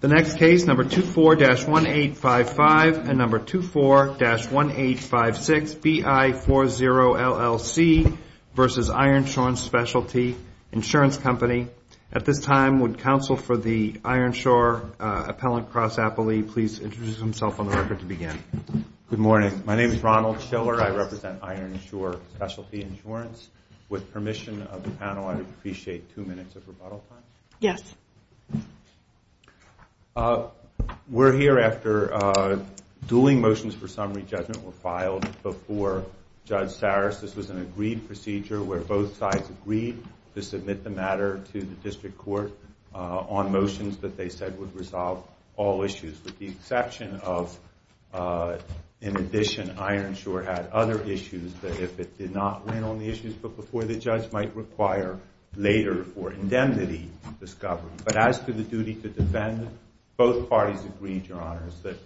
The next case, number 24-1855 and number 24-1856, B.I. 40 LLC v. Ironshore Specialty Insurance Company. At this time, would counsel for the Ironshore Appellant Cross Appellee please introduce himself on the record to begin. Good morning. My name is Ronald Schiller. I represent Ironshore Specialty Insurance. With permission of the panel, I would appreciate two minutes of rebuttal time. Yes. We're here after dueling motions for summary judgment were filed before Judge Saris. This was an agreed procedure where both sides agreed to submit the matter to the district court on motions that they said would resolve all issues, with the exception of, in addition, Ironshore had other issues that if it did not win on the issues, but before the judge might require later for indemnity discovery. But as to the duty to defend, both parties agreed, Your Honors, that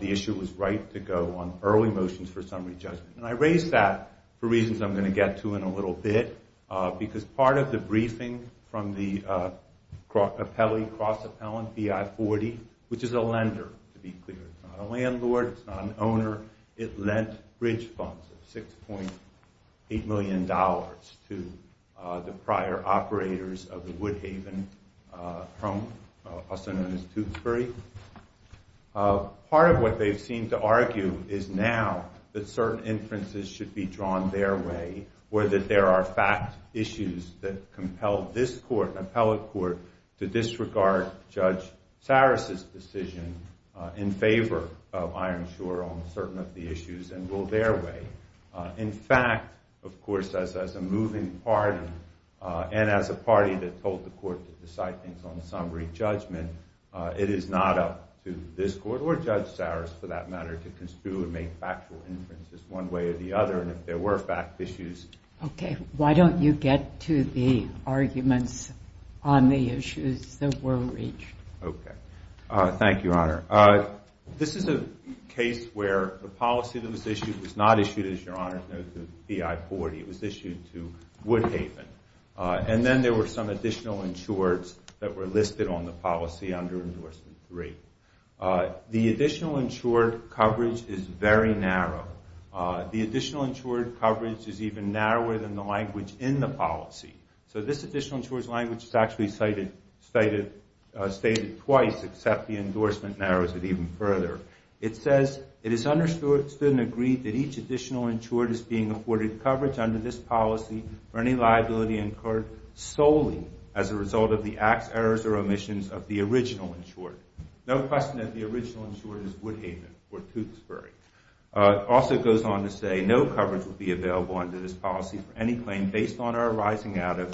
the issue was right to go on early motions for summary judgment. And I raise that for reasons I'm going to get to in a little bit, because part of the briefing from the cross appellant, B.I. 40, which is a lender, to be clear. It's not a landlord. It's not an owner. It lent bridge funds of $6.8 million to the prior operators of the Woodhaven home, also known as Tewksbury. Part of what they seem to argue is now that certain inferences should be drawn their way, or that there are fact issues that compel this court, an appellate court, to disregard Judge Saras' decision in favor of Ironshore on certain of the issues and rule their way. In fact, of course, as a moving party and as a party that told the court to decide things on summary judgment, it is not up to this court or Judge Saras, for that matter, to construe and make factual inferences one way or the other, and if there were fact issues. Okay. Why don't you get to the arguments on the issues that were reached? Okay. Thank you, Honor. This is a case where the policy that was issued was not issued, as your Honor knows, to B.I. 40. It was issued to Woodhaven. And then there were some additional insureds that were listed on the policy under Endorsement 3. The additional insured coverage is very narrow. The additional insured coverage is even narrower than the language in the policy. So this additional insured language is actually stated twice, except the endorsement narrows it even further. It says, it is understood and agreed that each additional insured is being afforded coverage under this policy for any liability incurred solely as a result of the acts, errors, or omissions of the original insured. No question that the original insured is Woodhaven or Tewksbury. It also goes on to say, no coverage will be available under this policy for any claim based on or arising out of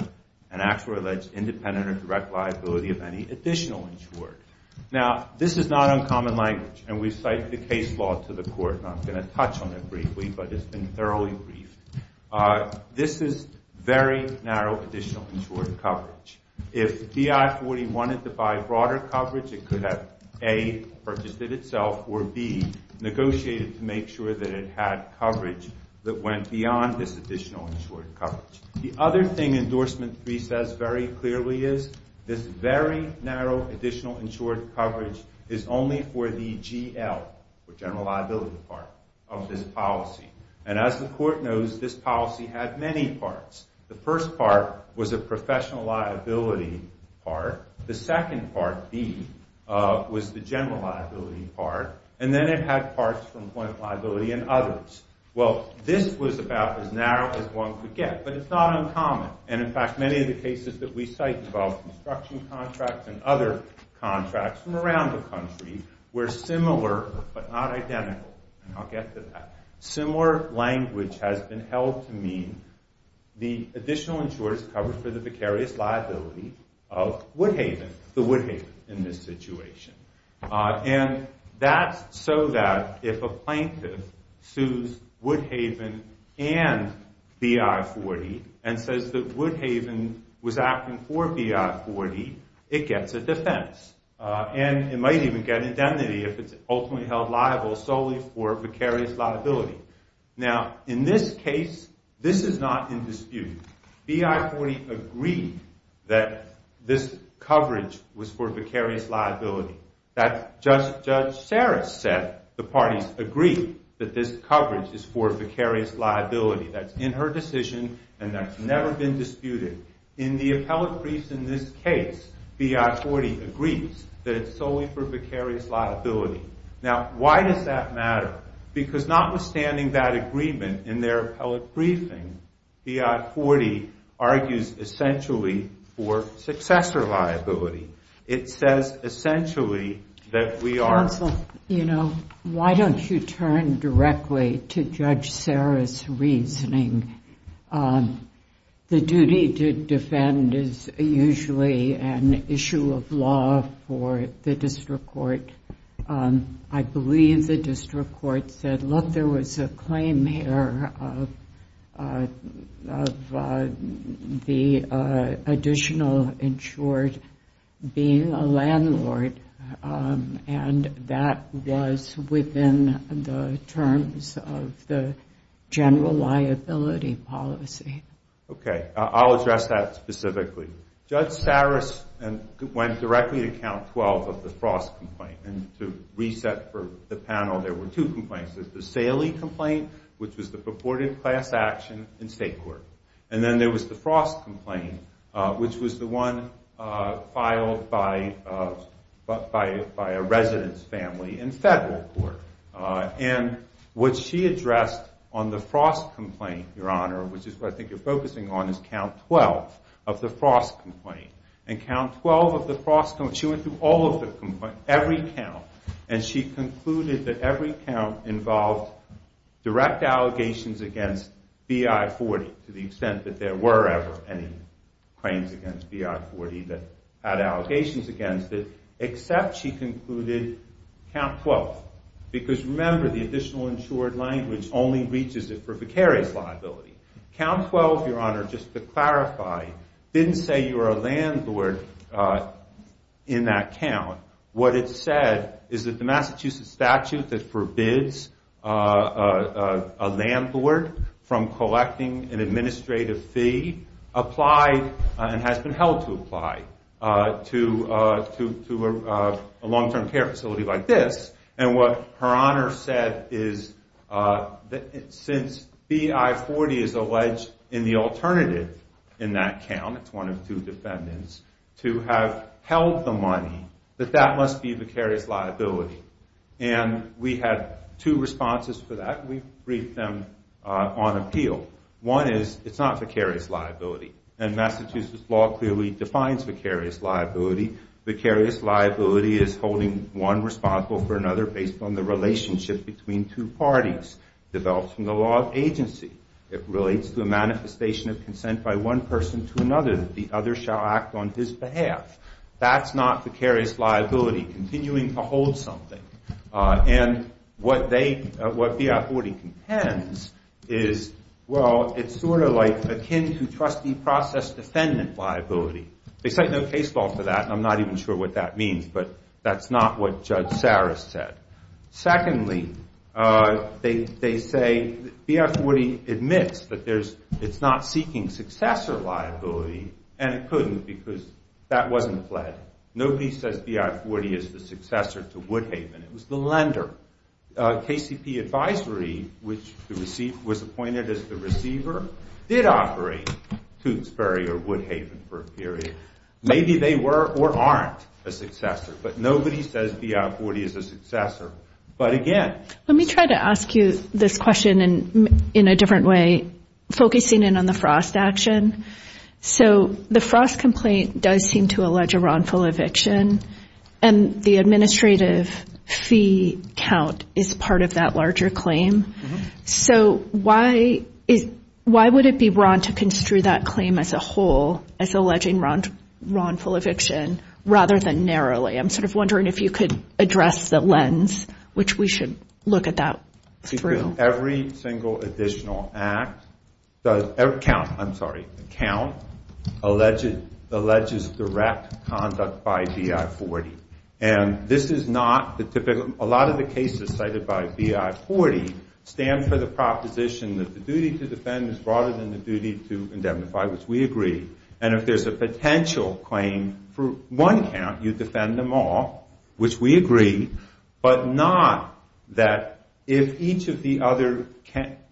an act or alleged independent or direct liability of any additional insured. Now, this is not uncommon language, and we've cited the case law to the Court, and I'm going to touch on it briefly, but it's been thoroughly briefed. This is very narrow additional insured coverage. If BI40 wanted to buy broader coverage, it could have, A, purchased it itself, or, B, negotiated to make sure that it had coverage that went beyond this additional insured coverage. The other thing Endorsement 3 says very clearly is, this very narrow additional insured coverage is only for the GL, or general liability part, of this policy. And as the Court knows, this policy had many parts. The first part was a professional liability part. The second part, B, was the general liability part. And then it had parts from point of liability and others. Well, this was about as narrow as one could get, but it's not uncommon. And, in fact, many of the cases that we cite involve construction contracts and other contracts from around the country were similar, but not identical. I'll get to that. Similar language has been held to mean the additional insured coverage for the precarious liability of Woodhaven, the Woodhaven in this situation. And that's so that if a plaintiff sues Woodhaven and BI40 and says that Woodhaven was acting for BI40, it gets a defense. And it might even get indemnity if it's ultimately held liable solely for precarious liability. Now, in this case, this is not in dispute. BI40 agreed that this coverage was for precarious liability. Judge Saris said the parties agreed that this coverage is for precarious liability. That's in her decision and that's never been disputed. In the appellate briefs in this case, BI40 agrees that it's solely for precarious liability. Now, why does that matter? Because notwithstanding that agreement in their appellate briefing, BI40 argues essentially for successor liability. It says essentially that we are... You know, why don't you turn directly to Judge Saris' reasoning? The duty to defend is usually an issue of law for the district court. I believe the district court said, look, there was a claim here of the additional insured being a landlord, and that was within the terms of the general liability policy. Okay. I'll address that specifically. Judge Saris went directly to count 12 of the Frost complaint. And to reset for the panel, there were two complaints. There's the Saley complaint, which was the purported class action in state court. And then there was the Frost complaint, which was the one filed by a resident's family in federal court. And what she addressed on the Frost complaint, Your Honor, which is what I think you're focusing on, is count 12 of the Frost complaint. And count 12 of the Frost complaint, she went through all of the complaints, every count, and she concluded that every count involved direct allegations against BI-40 to the extent that there were ever any claims against BI-40 that had allegations against it, except she concluded count 12. Because remember, the additional insured language only reaches it for vicarious liability. Count 12, Your Honor, just to clarify, didn't say you were a landlord in that count. What it said is that the Massachusetts statute that forbids a landlord from collecting an administrative fee applied and has been held to apply to a long-term care facility like this. And what Her Honor said is since BI-40 is alleged in the alternative in that count, it's one of two defendants, to have held the money, that that must be vicarious liability. And we had two responses for that. We briefed them on appeal. One is it's not vicarious liability. And Massachusetts law clearly defines vicarious liability. Vicarious liability is holding one responsible for another based on the relationship between two parties developed from the law of agency. It relates to a manifestation of consent by one person to another that the other shall act on his behalf. That's not vicarious liability, continuing to hold something. And what they, what BI-40 contends is, well, it's sort of like akin to trustee process defendant liability. They cite no case law for that, and I'm not even sure what that means, but that's not what Judge Saris said. Secondly, they say BI-40 admits that it's not seeking successor liability, and it couldn't because that wasn't fled. Nobody says BI-40 is the successor to Woodhaven. It was the lender. KCP advisory, which was appointed as the receiver, did operate Tewksbury or Woodhaven. Nobody says BI-40 is a successor. But again... Let me try to ask you this question in a different way, focusing in on the Frost action. So the Frost complaint does seem to allege a wrongful eviction, and the administrative fee count is part of that larger claim. So why would it be wrong to construe that claim as a alleging wrongful eviction rather than narrowly? I'm sort of wondering if you could address the lens, which we should look at that through. Every single additional act, I'm sorry, account, alleges direct conduct by BI-40. And this is not the typical, a lot of the cases cited by BI-40 stand for the proposition that the duty to defend is broader than the duty to indemnify, which we agree. And if there's a potential claim for one count, you defend them all, which we agree, but not that if each of the other...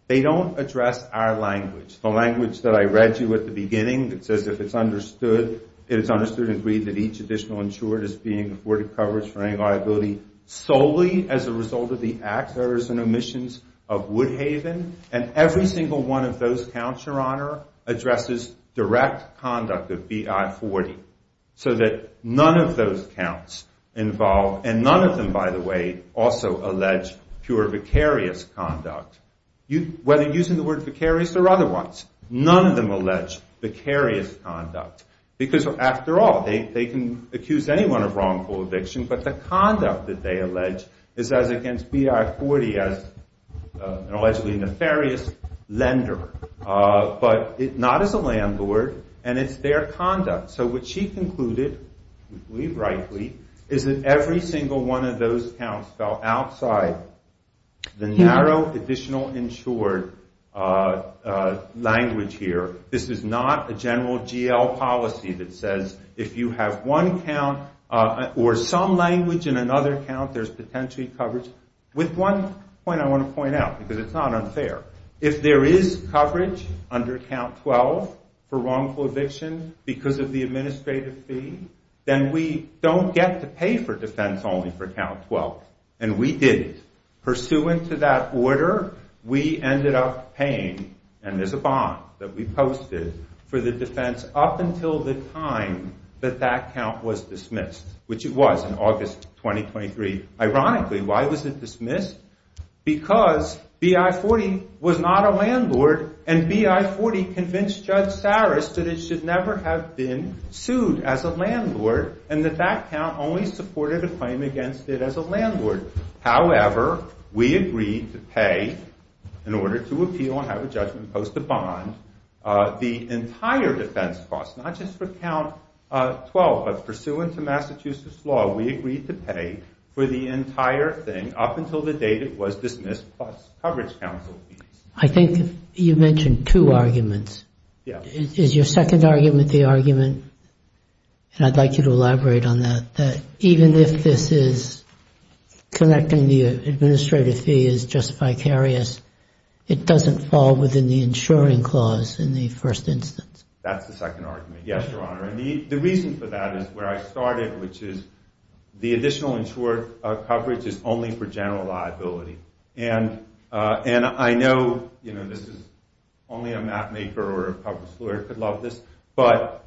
They don't address our language, the language that I read to you at the beginning that says if it's understood and agreed that each additional insured is being afforded coverage for any liability solely as a result of the acts, errors, and omissions of Woodhaven, and every single one of those counts, Your Honor, addresses direct conduct of BI-40 so that none of those counts involve, and none of them, by the way, also allege pure vicarious conduct. Whether using the word vicarious or other ones, none of them allege vicarious conduct because, after all, they can accuse anyone of wrongful eviction, but the conduct that they allege is as against BI-40 as an allegedly nefarious lender, but not as a landlord, and it's their conduct. So what she concluded, we believe rightly, is that every single one of those counts fell outside the narrow additional insured language here. This is not a general GL policy that says if you have one count or some language in another count, there's potentially coverage. With one point I want to point out, because it's not unfair. If there is coverage under Count 12 for wrongful eviction because of the administrative fee, then we don't get to pay for defense only for Count 12, and we didn't. Pursuant to that order, we ended up paying, and there's a bond that we posted, for the defense up until the time that that count was dismissed, which it was in August 2023. Ironically, why was it dismissed? Because BI-40 was not a landlord, and BI-40 convinced Judge Saris that it should never have been sued as a landlord, and that that count only supported a claim against it as a landlord. However, we agreed to pay, in order to appeal and have a judgment post a bond, the entire defense cost, not just for Count 12, but pursuant to Massachusetts law, we agreed to pay for the entire thing up until the date it was dismissed plus coverage counsel fees. I think you mentioned two arguments. Is your second argument the argument, and I'd like you to elaborate on that, that even if this is connecting the administrative fee as just vicarious, it doesn't fall within the insuring clause in the first instance? That's the second argument, yes, Your Honor, and the reason for that is where I started, which is the additional insured coverage is only for general liability, and I know this is only a mapmaker or a public lawyer could love this, but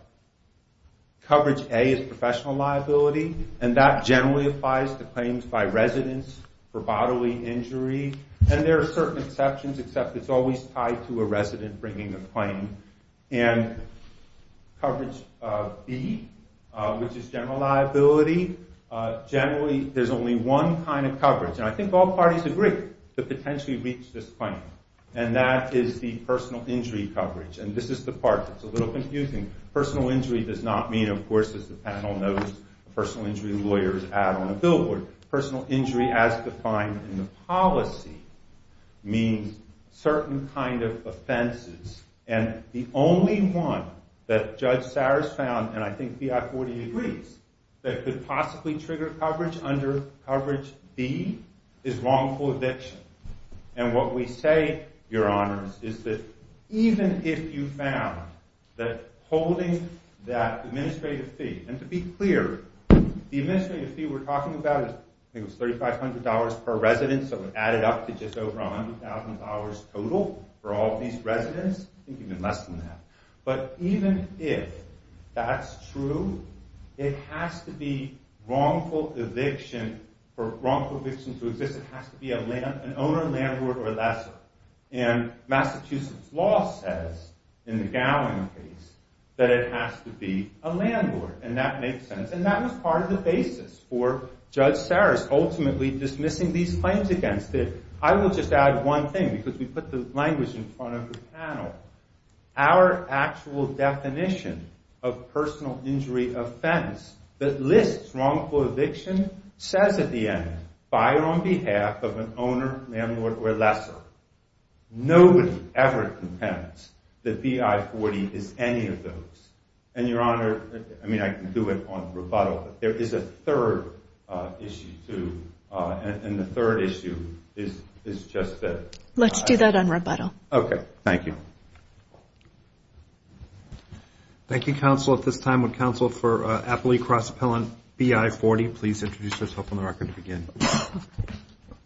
coverage A is professional liability, and that generally applies to claims by residents for bodily injury, and there are certain exceptions, except it's always tied to a resident bringing a claim, and coverage B, which is general liability, generally there's only one kind of coverage, and I think all parties agree to potentially reach this point, and that is the personal injury coverage, and this is the part that's a little confusing. Personal injury does not mean, of course, as the panel knows, personal injury lawyers add on a billboard, personal injury as defined in the policy means certain kind of offenses, and the only one that Judge Saras found, and I think BI40 agrees, that could possibly trigger coverage under coverage B is wrongful eviction, and what we say, Your Honors, is that even if you found that holding that administrative fee, and to be clear, the administrative fee we're talking about is $3,500 per resident, so we've added up to just over $100,000 total for all these residents, I think even less than that, but even if that's true, it has to be wrongful eviction for wrongful eviction to exist, it has to be an owner, landlord, or lessor, and Massachusetts law says, in the Gowling case, that it has to be a landlord, and that makes sense, and that was part of the basis for Judge Saras ultimately dismissing these claims against it. I will just add one thing, because we put the language in front of the panel. Our actual definition of personal injury offense that lists wrongful eviction says at the end, buyer on behalf of an owner, landlord, or lessor. Nobody ever contends that BI40 is any of those, and Your Honor, I mean I can do it on rebuttal, but there is a third issue too, and the third issue is just that. Let's do that on rebuttal. Okay, thank you. Thank you, Counsel. At this time would Counsel for Appellee Cross Appellant BI40 please introduce herself on the record to begin.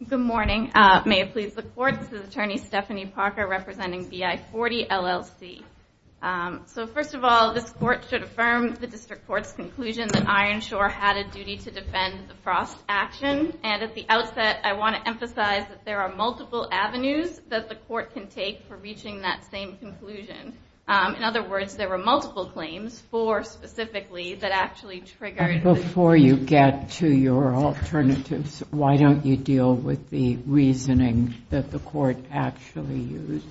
Good morning. May it please the Court, this is Attorney Stephanie Parker representing BI40 LLC. So first of all, this Court should affirm the District Court's conclusion that Ironshore had a duty to defend the Frost action, and at the outset I want to emphasize that there are multiple avenues that the Court can take for reaching that same conclusion. In other words, there were multiple claims, four specifically, that actually triggered... Before you get to your alternatives, why don't you deal with the reasoning that the Court actually used?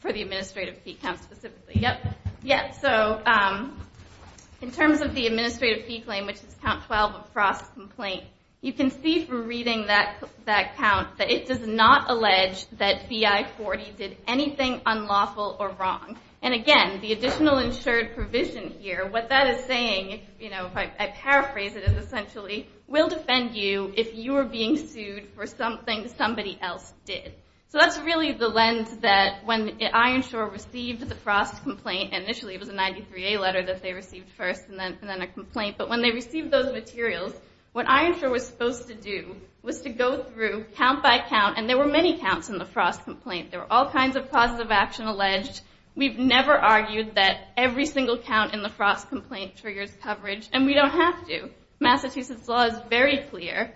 For the administrative fee count specifically, yep. So in terms of the administrative fee claim, which is count 12 of Frost's complaint, you can see from reading that count that it does not allege that BI40 did anything unlawful or wrong. And again, the additional insured provision here, what that is saying, if I paraphrase it essentially, will defend you if you are being sued for something somebody else did. So that's really the lens that when Ironshore received the Frost complaint, initially it was a 93A letter that they received first and then a complaint, but when they received those materials, what Ironshore was supposed to do was to go through count by count, and there were many counts in the Frost complaint. There were all kinds of positive action alleged. We've never argued that every single count in the Frost complaint triggers coverage, and we don't have to. Massachusetts law is very clear.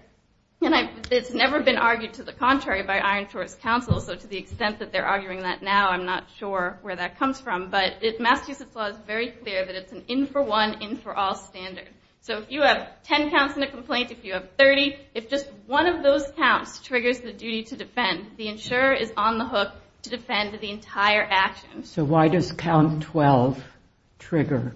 It's never been argued to the contrary by Ironshore's counsel, so to the extent that they're arguing that now, I'm not sure where that comes from. But Massachusetts law is very clear that it's an in-for-one, in-for-all standard. So if you have 10 counts in a complaint, if you have 30, if just one of those counts triggers the duty to defend, the insurer is on the hook to defend the entire action. So why does count 12 trigger?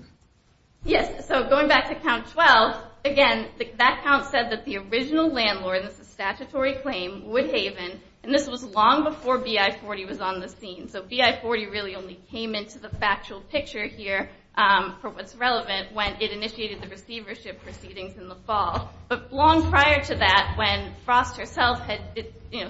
Yes, so going back to count 12, again, that count said that the original landlord, and this is statutory claim, Woodhaven, and this was long before BI40 was on the scene. So BI40 really only came into the factual picture here for what's relevant when it initiated the receivership proceedings in the fall. But long prior to that, when Frost herself had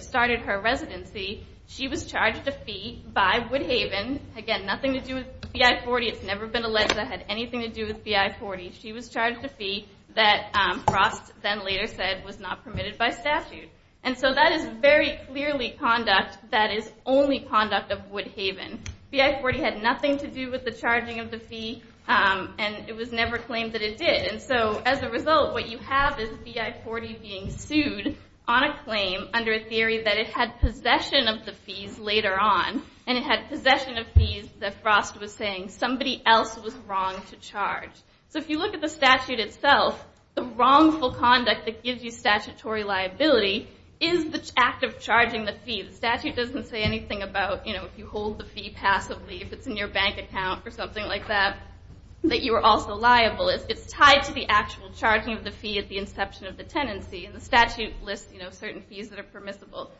started her residency, she was charged a fee by Woodhaven. Again, nothing to do with BI40. It's never been alleged that it had anything to do with BI40. She was charged a fee that Frost then later said was not permitted by statute. And so that is very clearly conduct that is only conduct of Woodhaven. BI40 had nothing to do with the charging of the fee, and it was never claimed that it did. And so as a result, what you have is BI40 being sued on a claim under a theory that it had possession of the fees later on, and it had possession of fees that Frost was saying somebody else was wrong to charge. So if you look at the statute itself, the wrongful conduct that gives you statutory liability is the act of charging the fee. The statute doesn't say anything about if you hold the fee passively, if it's in your bank account or something like that, that you are also liable. It's tied to the actual charging of the fee at the inception of the tenancy, and the statute lists certain fees that are permissible.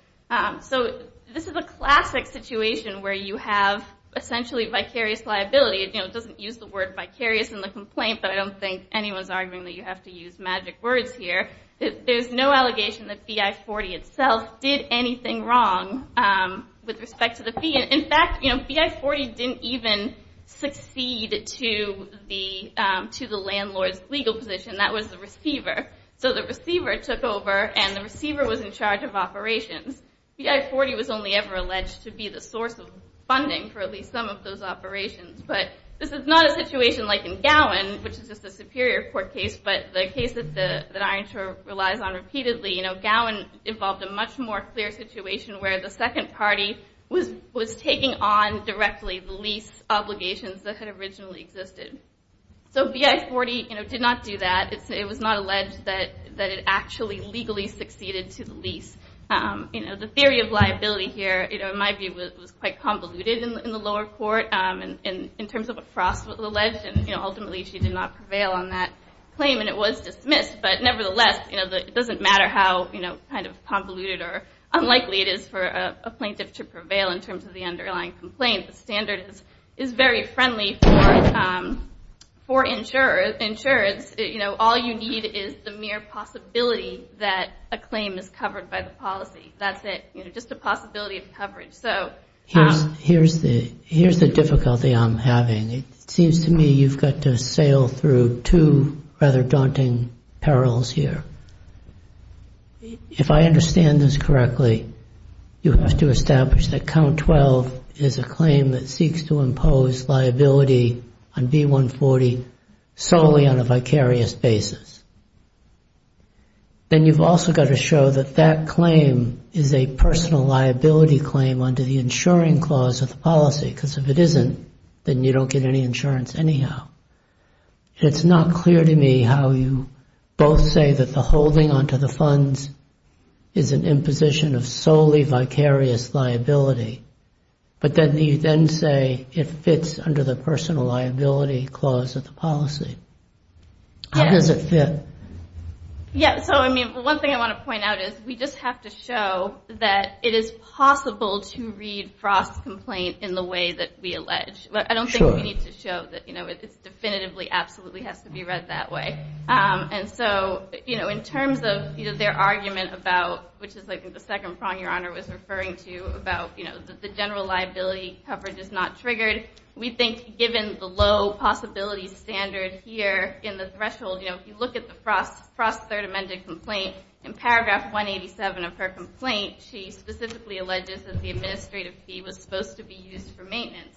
So this is a classic situation where you have essentially vicarious liability. It doesn't use the word vicarious in the complaint, but I don't think anyone is arguing that you have to use magic words here. There is no allegation that BI40 itself did anything wrong with respect to the fee. In fact, BI40 didn't even succeed to the landlord's legal position. That was the receiver. So the receiver took over, and the receiver was in charge of the operations. BI40 was only ever alleged to be the source of funding for at least some of those operations. But this is not a situation like in Gowen, which is just a Superior Court case, but the case that Iron Shore relies on repeatedly. Gowen involved a much more clear situation where the second party was taking on directly the lease obligations that had originally existed. So BI40 did not do that. It was not alleged that it actually legally succeeded to the lease. The theory of liability here, in my view, was quite convoluted in the lower court in terms of what Frost alleged, and ultimately she did not prevail on that claim, and it was dismissed. But nevertheless, it doesn't matter how convoluted or unlikely it is for a plaintiff to prevail in terms of the underlying complaint. The standard is very friendly for insurance. All you need is the mere possibility that a claim is covered by the policy. That's it. Just a possibility of coverage. Here's the difficulty I'm having. It seems to me you've got to sail through two rather daunting perils here. If I understand this correctly, you have to establish that Count 12 is a claim that seeks to impose liability on B140 solely on a vicarious basis. Then you've also got to show that that claim is a personal liability claim under the insuring clause of the policy, because if it isn't, then you don't get any insurance anyhow. It's not clear to me how you both say that the holding onto the funds is an imposition of solely vicarious liability, but then you then say it fits under the personal liability clause of the policy. How does it fit? One thing I want to point out is we just have to show that it is possible to read Frost's complaint in the way that we allege. I don't think we need to show that it definitively absolutely has to be read that way. In terms of their argument about, which is the second prong Your Honor was referring to, about the general liability coverage is not triggered, we think given the low possibility standard here in the threshold, if you look at the Frost's third amended complaint, in paragraph 187 of her complaint, she specifically alleges that the administrative fee was supposed to be used for maintenance.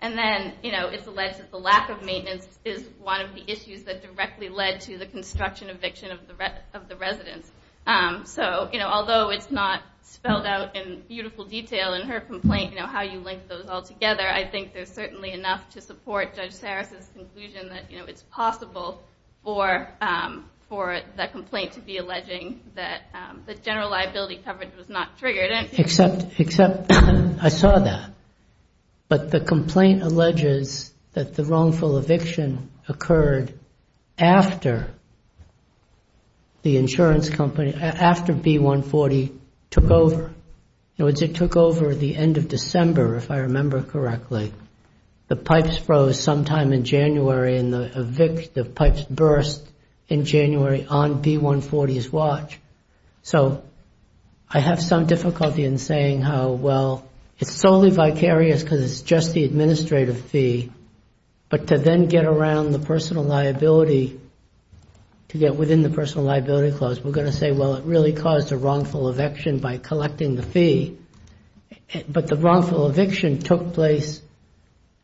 Then it's alleged that the lack of maintenance is one of the issues that directly led to the construction eviction of the residence. Although it's not spelled out in beautiful detail in her complaint, how you link those all together, I think there's certainly enough to support Judge Sarris' conclusion that it's possible for the complaint to be alleging that the general liability coverage was not triggered. Except I saw that. But the complaint alleges that the wrongful eviction occurred after the insurance company, after B-140 took over. In other words, it took over the end of December, if I remember correctly. The pipes froze sometime in January and the pipes burst in January on B-140's watch. So I have some difficulty in saying how, well, it's solely vicarious because it's just the administrative fee. But to then get around the personal liability, to get within the personal liability clause, we're going to say, well, it really caused a wrongful eviction by collecting the fee. But the wrongful eviction took place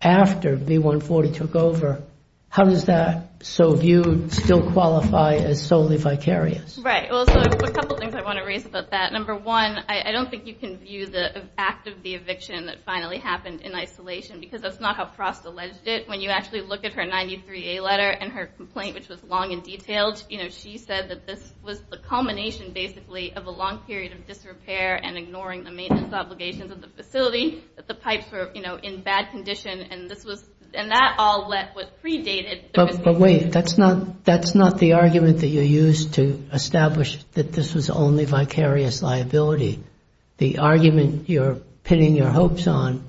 after B-140 took over. How does that, so you still qualify as solely vicarious? Right. Well, a couple of things I want to raise about that. Number one, I don't think you can view the act of the eviction that finally happened in isolation because that's not how Frost alleged it. When you actually look at her 93A letter and her complaint, which was long and detailed, she said that this was the culmination, basically, of a long period of disrepair and ignoring the maintenance obligations of the facility, that the pipes were in bad condition. And this was, and that all let what predated But wait, that's not the argument that you used to establish that this was only vicarious liability. The argument you're pinning your hopes on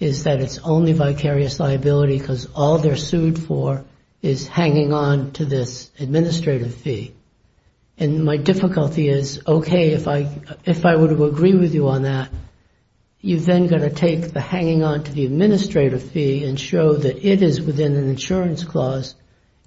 is that it's only vicarious liability because all they're sued for is hanging on to this administrative fee. And my difficulty is, okay, if I were to agree with you on that, you're then going to take the hanging on to the administrative fee and show that it is within an insurance clause.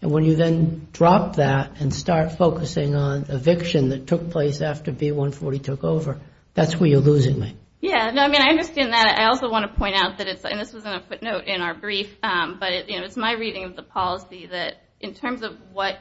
And when you then drop that and start focusing on eviction that took place after B-140 took over, that's where you're losing me. Yeah, I mean, I understand that. I also want to point out that it's, and this was in a footnote in our brief, but it's my understanding of the policy that in terms of what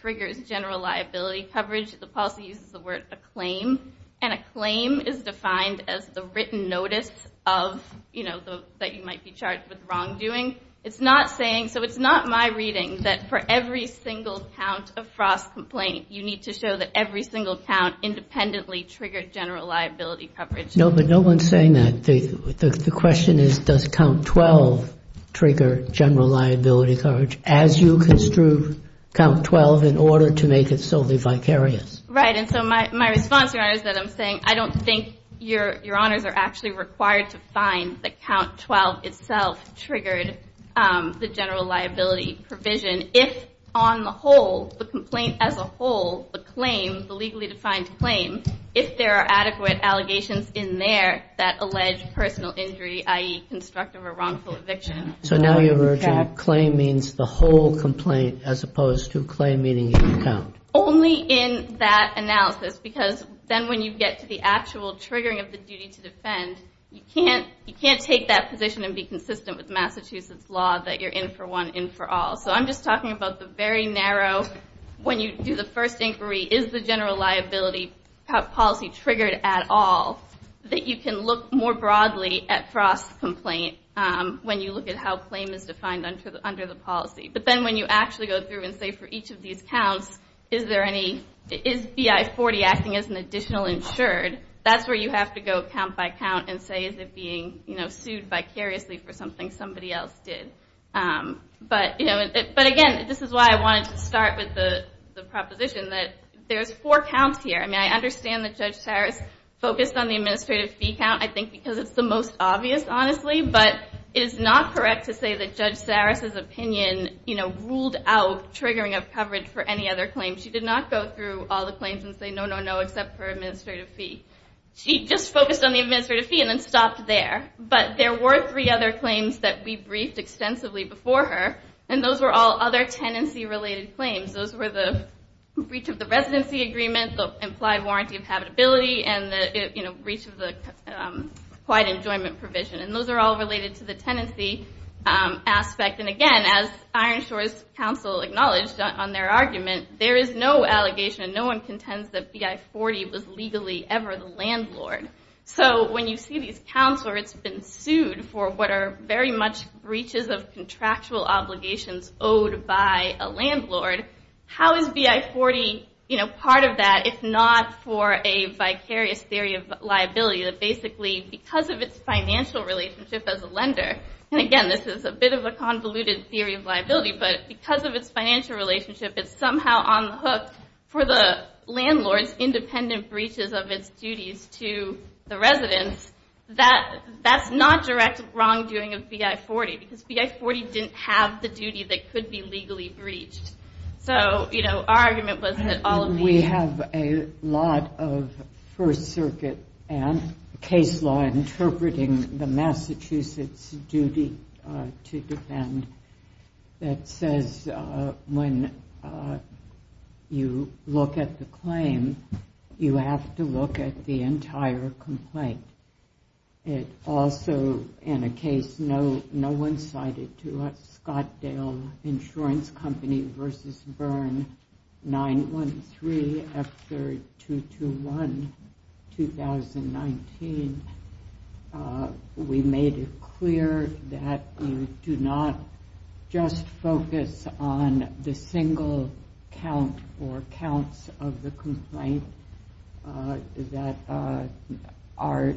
triggers general liability coverage, the policy uses the word acclaim, and acclaim is defined as the written notice of, you know, that you might be charged with wrongdoing. It's not saying, so it's not my reading that for every single count of frost complaint, you need to show that every single count independently triggered general liability coverage. No, but no one's saying that. The question is, does count 12 trigger general liability coverage as you construe count 12 in order to make it solely vicarious? Right, and so my response, Your Honor, is that I'm saying I don't think Your Honors are actually required to find that count 12 itself triggered the general liability provision if on the whole, the complaint as a whole, the claim, the legally defined claim, if there are adequate allegations in there that allege personal injury, i.e. constructive or wrongful eviction. So now you're urging claim means the whole complaint as opposed to claim meaning the count. Only in that analysis, because then when you get to the actual triggering of the duty to defend, you can't take that position and be consistent with Massachusetts law that you're in for one, in for all. So I'm just talking about the very narrow, when you do the first inquiry, is the general liability policy triggered at all, that you can look more broadly at Frost's complaint when you look at how claim is defined under the policy. But then when you actually go through and say for each of these counts, is BI-40 acting as an additional insured, that's where you have to go count by count and say is it being sued vicariously for something somebody else did. But again, this is why I wanted to start with the proposition that there's four counts here. I mean, I understand that Judge Saris focused on the administrative fee count, I think, because it's the most obvious, honestly. But it is not correct to say that Judge Saris's opinion ruled out triggering of coverage for any other claim. She did not go through all the claims and say no, no, no, except for administrative fee. She just focused on the administrative fee and then stopped there. But there were three other claims that we briefed extensively before her, and those were all other tenancy-related claims. Those were the breach of the residency agreement, the implied warranty of habitability, and the breach of the quiet enjoyment provision. And those are all related to the tenancy aspect. And again, as Ironshore's counsel acknowledged on their argument, there is no allegation and no one contends that BI-40 was legally for the landlord. So when you see these counts where it's been sued for what are very much breaches of contractual obligations owed by a landlord, how is BI-40 part of that if not for a vicarious theory of liability that basically because of its financial relationship as a lender, and again, this is a bit of a convoluted theory of liability, but because of its financial relationship, it's somehow on the hook for the landlord's independent breaches of its duties to the residents, that that's not direct wrongdoing of BI-40 because BI-40 didn't have the duty that could be legally breached. So our argument was that all of these... We have a lot of First Circuit and case law interpreting the Massachusetts duty to defend that says when a landlord you look at the claim, you have to look at the entire complaint. It also, in a case no one cited to us, Scotdale Insurance Company v. Byrne, 9-1-3, F-3-2-2-1, 2019. We made it clear that you do not just focus on the single claim. You do not just look at the single count or counts of the complaint that are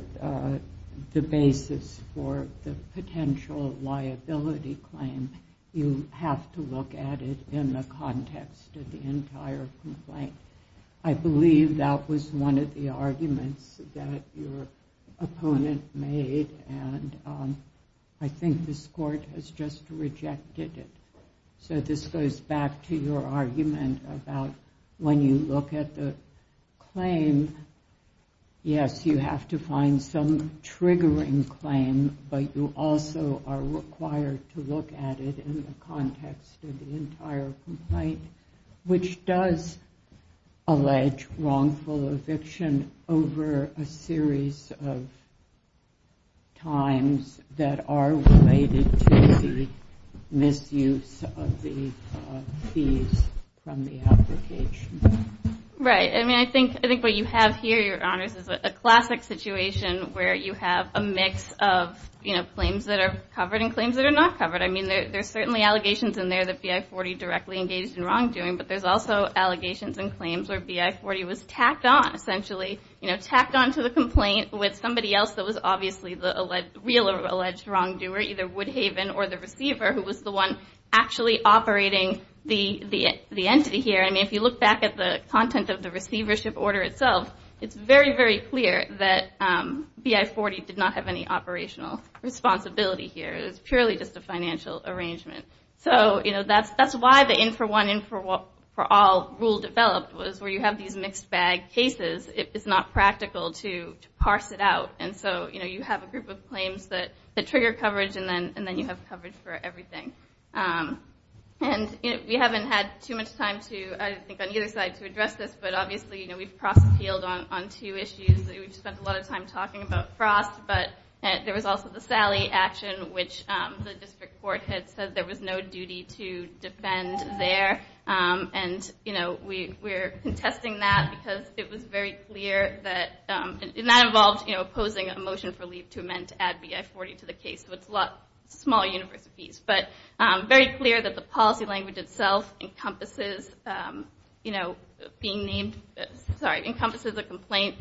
the basis for the potential liability claim. You have to look at it in the context of the entire complaint. I believe that was one of the arguments that your opponent made, and I think this Court has just rejected it. So this goes back to your argument about when you look at the claim, yes, you have to find some triggering claim, but you also are required to look at it in the context of the entire complaint, which does allege wrongful eviction over a series of times that are related to the misuse of the fees from the application. Right. I mean, I think what you have here, Your Honors, is a classic situation where you have a mix of claims that are covered and claims that are not covered. I mean, there's certainly allegations in there that B.I. 40 directly engaged in wrongdoing, but there's also allegations and claims where B.I. 40 was tacked on, essentially, to the complaint with somebody else that was obviously the real alleged wrongdoer, either Woodhaven or the receiver, who was the one actually operating the entity here. I mean, if you look back at the content of the receivership order itself, it's very, very clear that B.I. 40 did not have any operational responsibility here. It was purely just a financial arrangement. So, you know, that's why the in-for-one, in-for-all rule developed was where you have these mixed bag cases. It's not practical to parse it out. And so, you know, you have a group of claims that trigger coverage, and then you have coverage for everything. And we haven't had too much time, I think, on either side to address this, but obviously, you know, we've proskeyed on two issues. We've spent a lot of time talking about Frost, but there was also the Sally action, which the district court had said there was no duty to defend there. And, you know, we're contesting that because it was very clear that... And that involved, you know, opposing a motion for leave to amend to add B.I. 40 to the case. So it's a lot smaller universities. But very clear that the policy language itself encompasses, you know, being named... Sorry, encompasses a complaint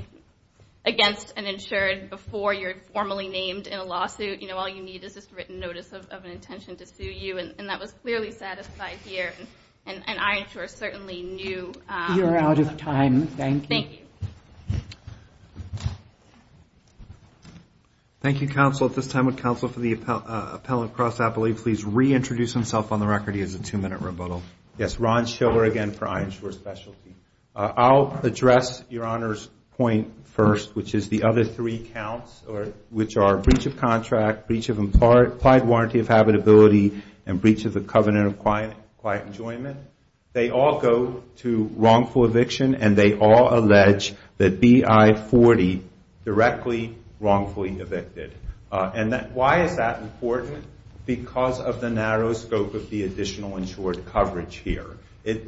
against an insured before you're formally named in a lawsuit. You know, all you need is this written notice of an intention to sue you, and that was clearly satisfied here, and I, of course, certainly knew... Thank you, counsel. At this time, would counsel for the appellant, Cross Appellee, please reintroduce himself on the record? He has a two-minute rebuttal. Yes, Ron Schiller again for iInsure Specialty. I'll address Your Honor's point first, which is the other three counts, which are breach of contract, breach of implied warranty of habitability, and breach of the covenant of quiet enjoyment. They all go to wrongful eviction, and they all allege that B.I. 40 directly wrongfully evicted. And why is that important? Because of the narrow scope of the additional insured coverage here.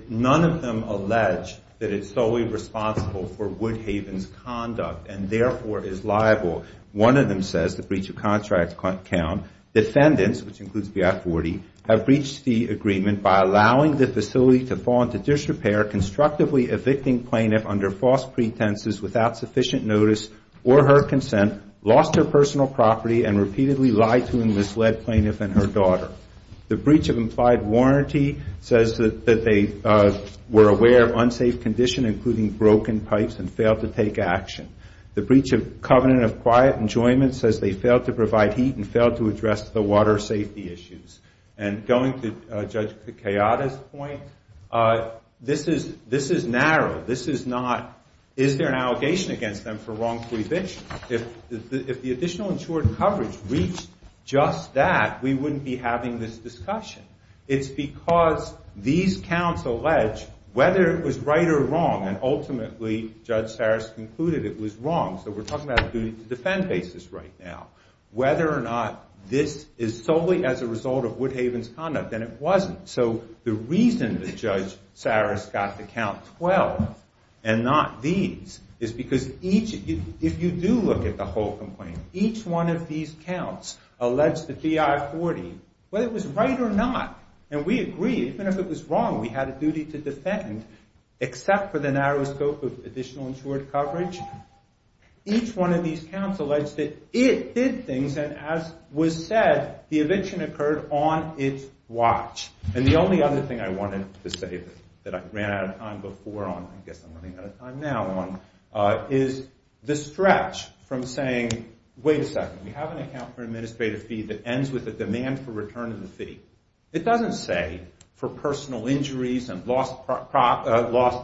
None of them allege that it's solely responsible for Woodhaven's conduct, and therefore is liable. One of them says, the breach of contract count, defendants, which includes B.I. 40, have breached the agreement by allowing the facility to fall into disrepair, constructively evicting plaintiff under false pretenses without sufficient notice or her consent, lost her personal property, and repeatedly lied to and misled plaintiff and her daughter. The breach of implied warranty says that they were aware of unsafe condition, including broken pipes, and failed to take action. The breach of covenant of quiet enjoyment says they failed to provide heat and failed to address the water safety issues. And going to Judge Picciotta's point, this is narrow. This is not, is there an allegation against them for wrongful eviction? If the additional insured coverage reached just that, we wouldn't be having this discussion. It's because these counts allege, whether it was right or wrong, and ultimately Judge Saras concluded it was wrong, so we're talking about a duty to defend basis right now, whether or not this is solely as a result of Woodhaven's conduct, and it wasn't. So the reason that Judge Saras got the count 12 and not these is because each, if you do look at the whole complaint, each one of these counts allege that the I-40, whether it was right or not, and we agree, even if it was wrong, we had a duty to defend, except for the narrow scope of additional insured coverage. Each one of these counts allege that it did things, and as was said, the eviction occurred on its watch. And the only other thing I wanted to say that I ran out of time before on, I guess I'm running out of time now on, is the stretch from saying, wait a second, we have an account for administrative fee that ends with a demand for return of the fee. It doesn't say for personal injuries and lost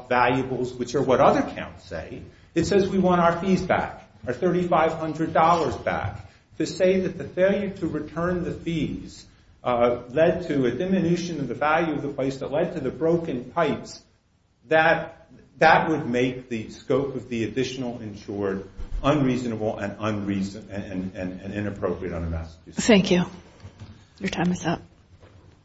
valuables, which are what other counts say. It says we want our fees back, our $3,500 back. To say that the failure to return the fees led to a diminution of the value of the place that led to the broken pipes, that would make the scope of the additional insured unreasonable and inappropriate on a Massachusetts case. Thank you. Your time is up.